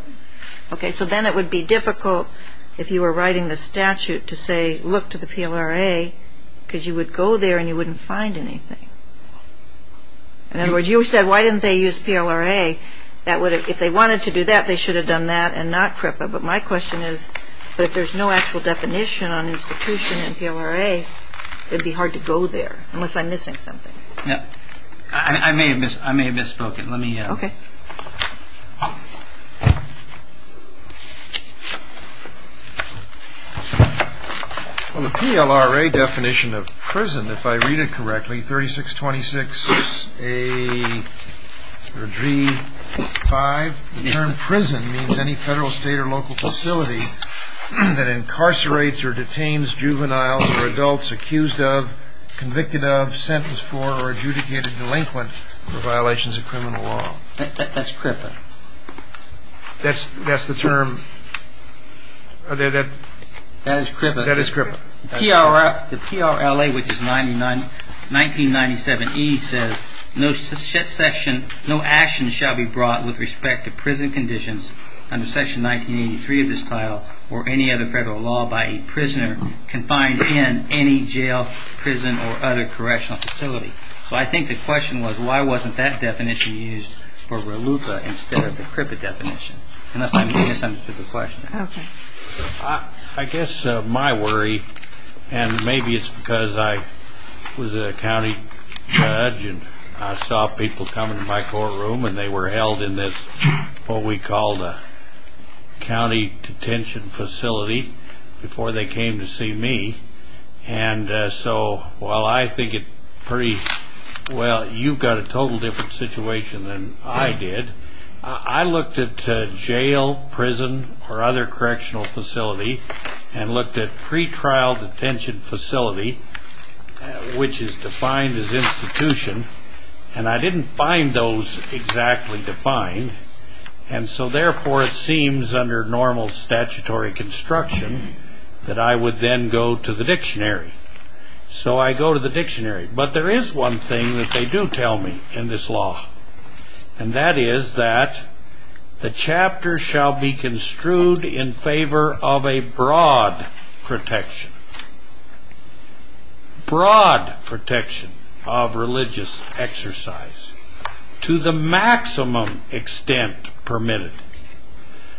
Okay, so then it would be difficult if you were writing the statute to say, look to the PLRA, because you would go there and you wouldn't find anything. In other words, you said, why didn't they use PLRA? If they wanted to do that, they should have done that and not CRIPA. But my question is, but if there's no actual definition on institution in PLRA, it would be hard to go there, unless I'm missing something. I may have misspoken. Okay. Well, the PLRA definition of prison, if I read it correctly, 3626A or G5, the term prison means any federal, state, or local facility that incarcerates or detains juveniles or adults accused of, convicted of, sentenced for, or adjudicated delinquent for violations of criminal law. That's CRIPA. That's the term? That is CRIPA. That is CRIPA. The PLRA, which is 1997E, says, no action shall be brought with respect to prison conditions under section 1983 of this title or any other federal law by a prisoner confined in any jail, prison, or other correctional facility. So I think the question was, why wasn't that definition used for RLUCA instead of the CRIPA definition? Unless I misunderstood the question. Okay. I guess my worry, and maybe it's because I was a county judge and I saw people come into my courtroom and they were held in this what we called a county detention facility before they came to see me. And so while I think it's pretty, well, you've got a total different situation than I did. I looked at jail, prison, or other correctional facility and looked at pretrial detention facility, which is defined as institution, and I didn't find those exactly defined, and so therefore it seems under normal statutory construction that I would then go to the dictionary. So I go to the dictionary. But there is one thing that they do tell me in this law, and that is that the chapter shall be construed in favor of a broad protection. Broad protection of religious exercise to the maximum extent permitted.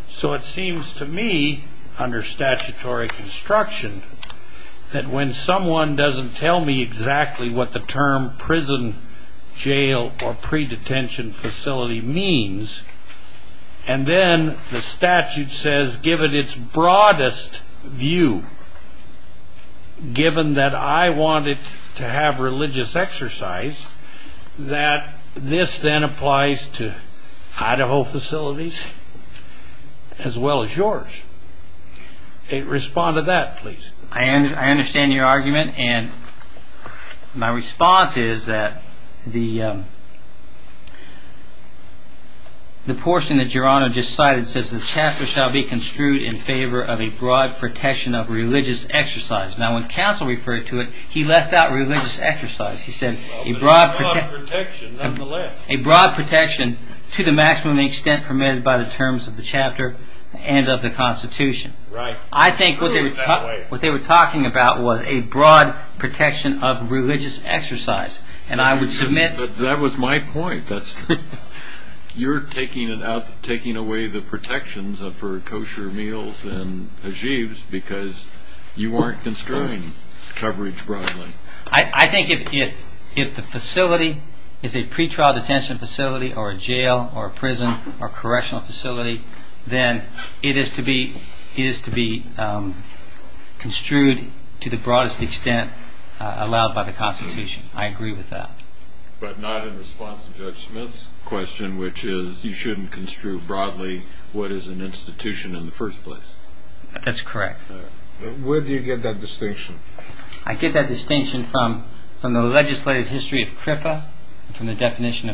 So it seems to me under statutory construction that when someone doesn't tell me exactly what the term prison, jail, or pre-detention facility means, and then the statute says given its broadest view, given that I wanted to have religious exercise, that this then applies to Idaho facilities as well as yours. Respond to that, please. I understand your argument, and my response is that the portion that Your Honor just cited says the chapter shall be construed in favor of a broad protection of religious exercise. Now when counsel referred to it, he left out religious exercise. He said a broad protection to the maximum extent permitted by the terms of the chapter and of the Constitution. Right. I think what they were talking about was a broad protection of religious exercise. That was my point. You're taking away the protections for kosher meals and hajibs because you aren't construing coverage broadly. I think if the facility is a pre-trial detention facility, then it is to be construed to the broadest extent allowed by the Constitution. I agree with that. But not in response to Judge Smith's question, which is you shouldn't construe broadly what is an institution in the first place. That's correct. Where do you get that distinction? I get that distinction from the legislative history of CRIPA, from the definition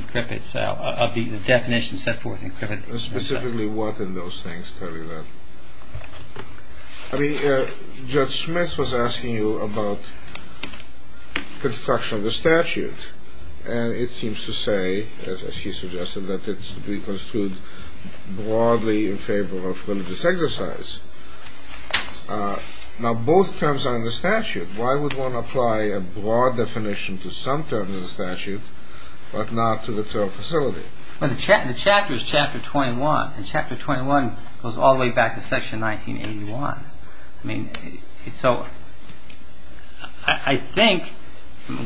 set forth in CRIPA. Specifically what in those things? I'll tell you that. I mean, Judge Smith was asking you about construction of the statute, and it seems to say, as he suggested, that it should be construed broadly in favor of religious exercise. Now both terms are in the statute. Why would one apply a broad definition to some term in the statute but not to the term facility? Well, the chapter is Chapter 21, and Chapter 21 goes all the way back to Section 1981. I mean, so I think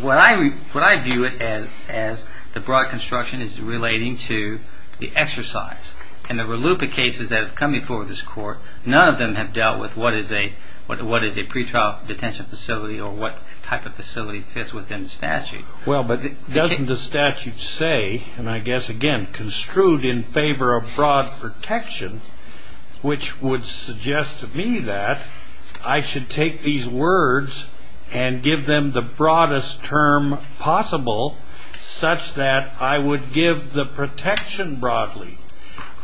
what I view it as the broad construction is relating to the exercise. And there were a loop of cases that have come before this Court. None of them have dealt with what is a pre-trial detention facility or what type of facility fits within the statute. Well, but doesn't the statute say, and I guess, again, construed in favor of broad protection, which would suggest to me that I should take these words and give them the broadest term possible such that I would give the protection broadly.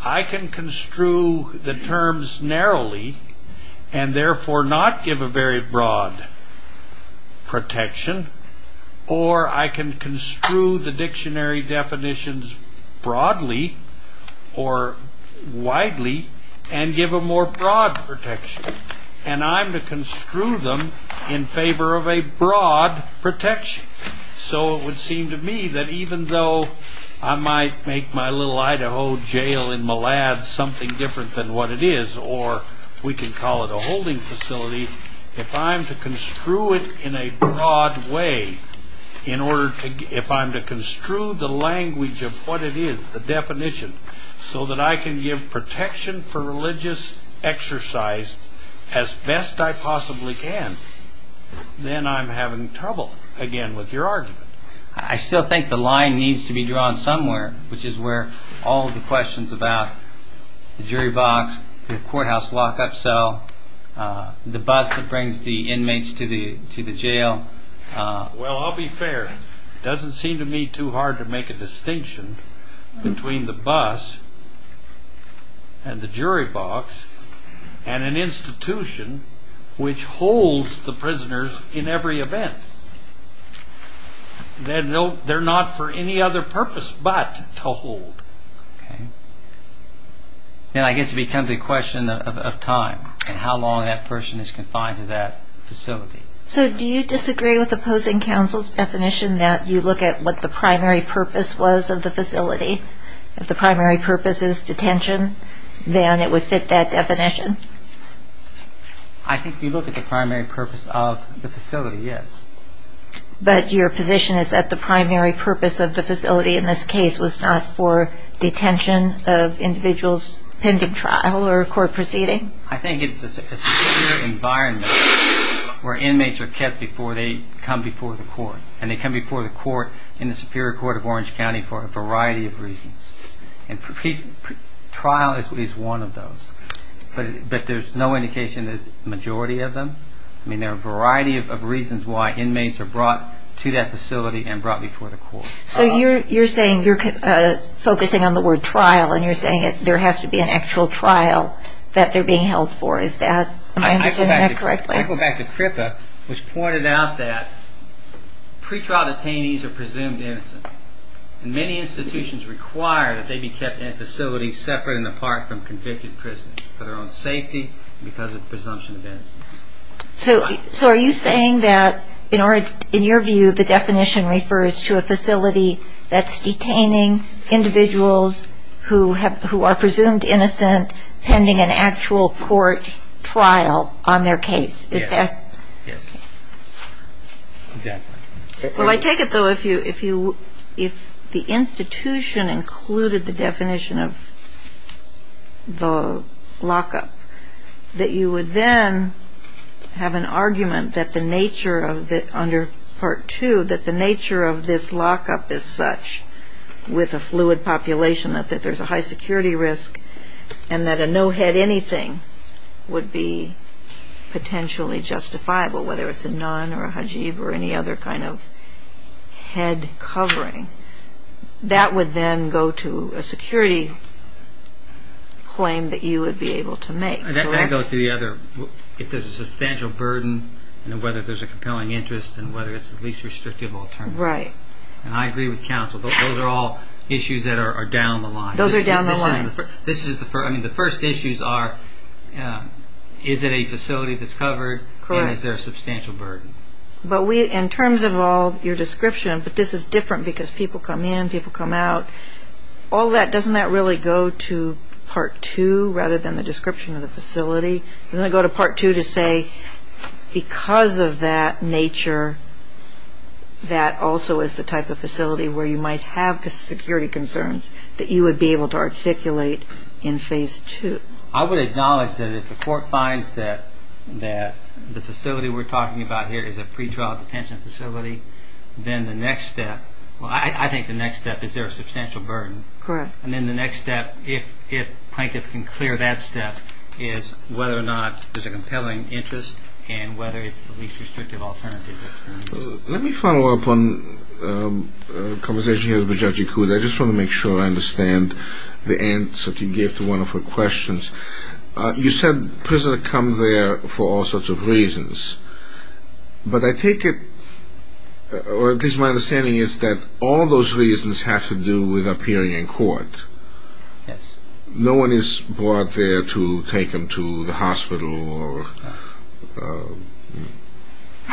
I can construe the terms narrowly and therefore not give a very broad protection or I can construe the dictionary definitions broadly or widely and give a more broad protection. And I'm to construe them in favor of a broad protection. So it would seem to me that even though I might make my little Idaho jail in Millad something different than what it is, or we can call it a holding facility, if I'm to construe it in a broad way, if I'm to construe the language of what it is, the definition, so that I can give protection for religious exercise as best I possibly can, then I'm having trouble, again, with your argument. I still think the line needs to be drawn somewhere, which is where all of the questions about the jury box, the courthouse lock-up cell, the bus that brings the inmates to the jail. Well, I'll be fair. It doesn't seem to me too hard to make a distinction between the bus and the jury box and an institution which holds the prisoners in every event. They're not for any other purpose but to hold. Okay. Then I guess it becomes a question of time and how long that person is confined to that facility. So do you disagree with opposing counsel's definition that you look at what the primary purpose was of the facility? If the primary purpose is detention, then it would fit that definition? I think you look at the primary purpose of the facility, yes. But your position is that the primary purpose of the facility in this case was not for detention of individuals pending trial or a court proceeding? I think it's a superior environment where inmates are kept before they come before the court, and they come before the court in the Superior Court of Orange County for a variety of reasons. And trial is one of those, but there's no indication that it's the majority of them. I mean, there are a variety of reasons why inmates are brought to that facility and brought before the court. So you're saying you're focusing on the word trial, and you're saying there has to be an actual trial that they're being held for. Is that correct? I go back to CRIPA, which pointed out that pretrial detainees are presumed innocent, and many institutions require that they be kept in a facility separate and apart from convicted prisoners for their own safety and because of presumption of innocence. So are you saying that, in your view, the definition refers to a facility that's detaining individuals who are presumed innocent pending an actual court trial on their case? Yes. Exactly. Well, I take it, though, if the institution included the definition of the lockup, that you would then have an argument that the nature under Part 2, that the nature of this lockup is such with a fluid population, that there's a high security risk, and that a no-head-anything would be potentially justifiable, whether it's a nun or a hajib or any other kind of head covering. That would then go to a security claim that you would be able to make, correct? That goes to the other, if there's a substantial burden and whether there's a compelling interest and whether it's the least restrictive alternative. Right. And I agree with counsel. Those are all issues that are down the line. Those are down the line. I mean, the first issues are, is it a facility that's covered? Correct. And is there a substantial burden? In terms of all your description, but this is different because people come in, people come out, doesn't that really go to Part 2 rather than the description of the facility? Doesn't it go to Part 2 to say, because of that nature, that also is the type of facility where you might have security concerns that you would be able to articulate in Phase 2? I would acknowledge that if the court finds that the facility we're talking about here is a pretrial detention facility, then the next step, well, I think the next step, is there a substantial burden? Correct. And then the next step, if a plaintiff can clear that step, is whether or not there's a compelling interest and whether it's the least restrictive alternative. Let me follow up on a conversation here with Judge Ikuda. I just want to make sure I understand the answer that you gave to one of her questions. You said prisoners come there for all sorts of reasons, but I take it, or at least my understanding is that all those reasons have to do with appearing in court. Yes. No one is brought there to take them to the hospital or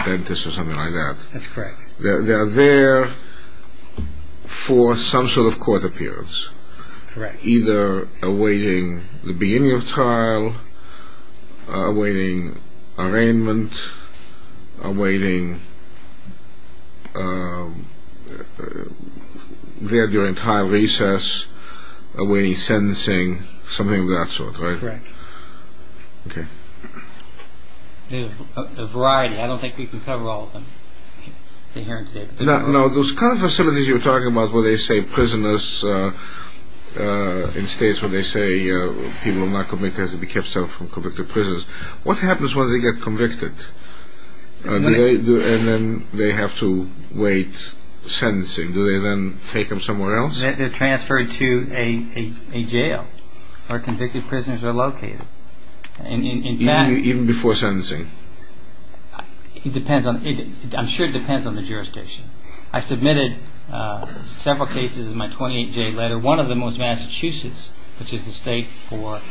dentist or something like that. That's correct. They are there for some sort of court appearance. Correct. Either awaiting the beginning of trial, awaiting arraignment, awaiting there during trial recess, awaiting sentencing, something of that sort, right? Correct. Okay. There's a variety. I don't think we can cover all of them here today. No. Those kind of facilities you were talking about where they say prisoners, in states where they say people are not convicted has to be kept safe from convicted prisoners, what happens once they get convicted? And then they have to wait sentencing. Do they then take them somewhere else? They're transferred to a jail where convicted prisoners are located. Even before sentencing? It depends. I'm sure it depends on the jurisdiction. I submitted several cases in my 28-J letter. One of them was Massachusetts, which is the state where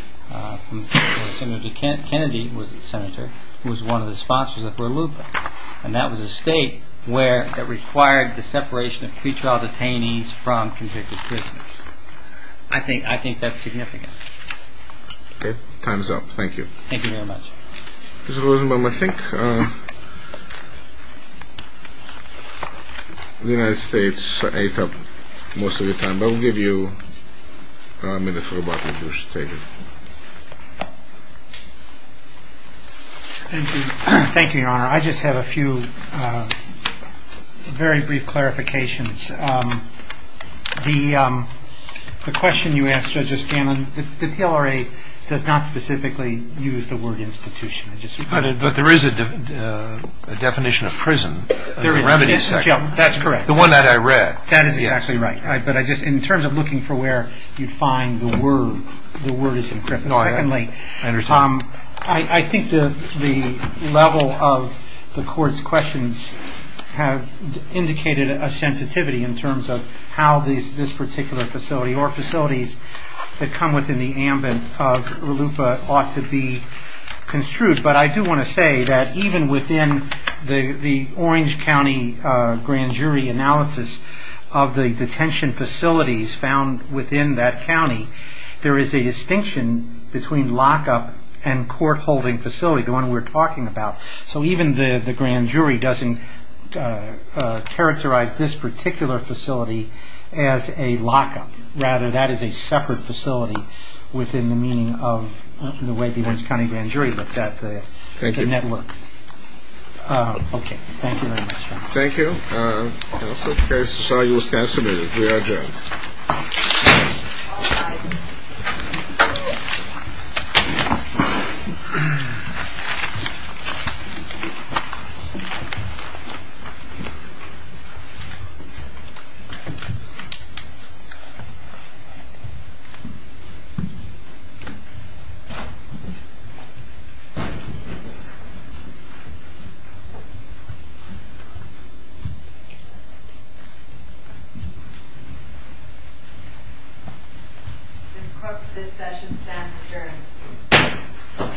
Senator Kennedy was a senator, who was one of the sponsors of Lula, and that was a state that required the separation of pretrial detainees from convicted prisoners. I think that's significant. Okay. Time's up. Thank you. Thank you very much. Mr. Rosenbaum, I think the United States ate up most of your time, but I'll give you a minute for rebuttal if you wish to take it. Thank you, Your Honor. I just have a few very brief clarifications. The question you asked, Justice Gannon, the PLRA does not specifically use the word institution. But there is a definition of prison. There is. That's correct. The one that I read. That is exactly right. But in terms of looking for where you'd find the word, the word is incorrect. I understand. I think the level of the Court's questions have indicated a sensitivity in terms of how this particular facility or facilities that come within the ambit of RLUPA ought to be construed. But I do want to say that even within the Orange County grand jury analysis of the detention facilities found within that county, there is a distinction between lock-up and court-holding facility, the one we're talking about. So even the grand jury doesn't characterize this particular facility as a lock-up. Rather, that is a separate facility within the meaning of the way the Orange County grand jury looked at the network. Thank you. Okay. Thank you very much, Your Honor. Thank you. Okay. So I will stand submitted. We are adjourned. This session stands adjourned.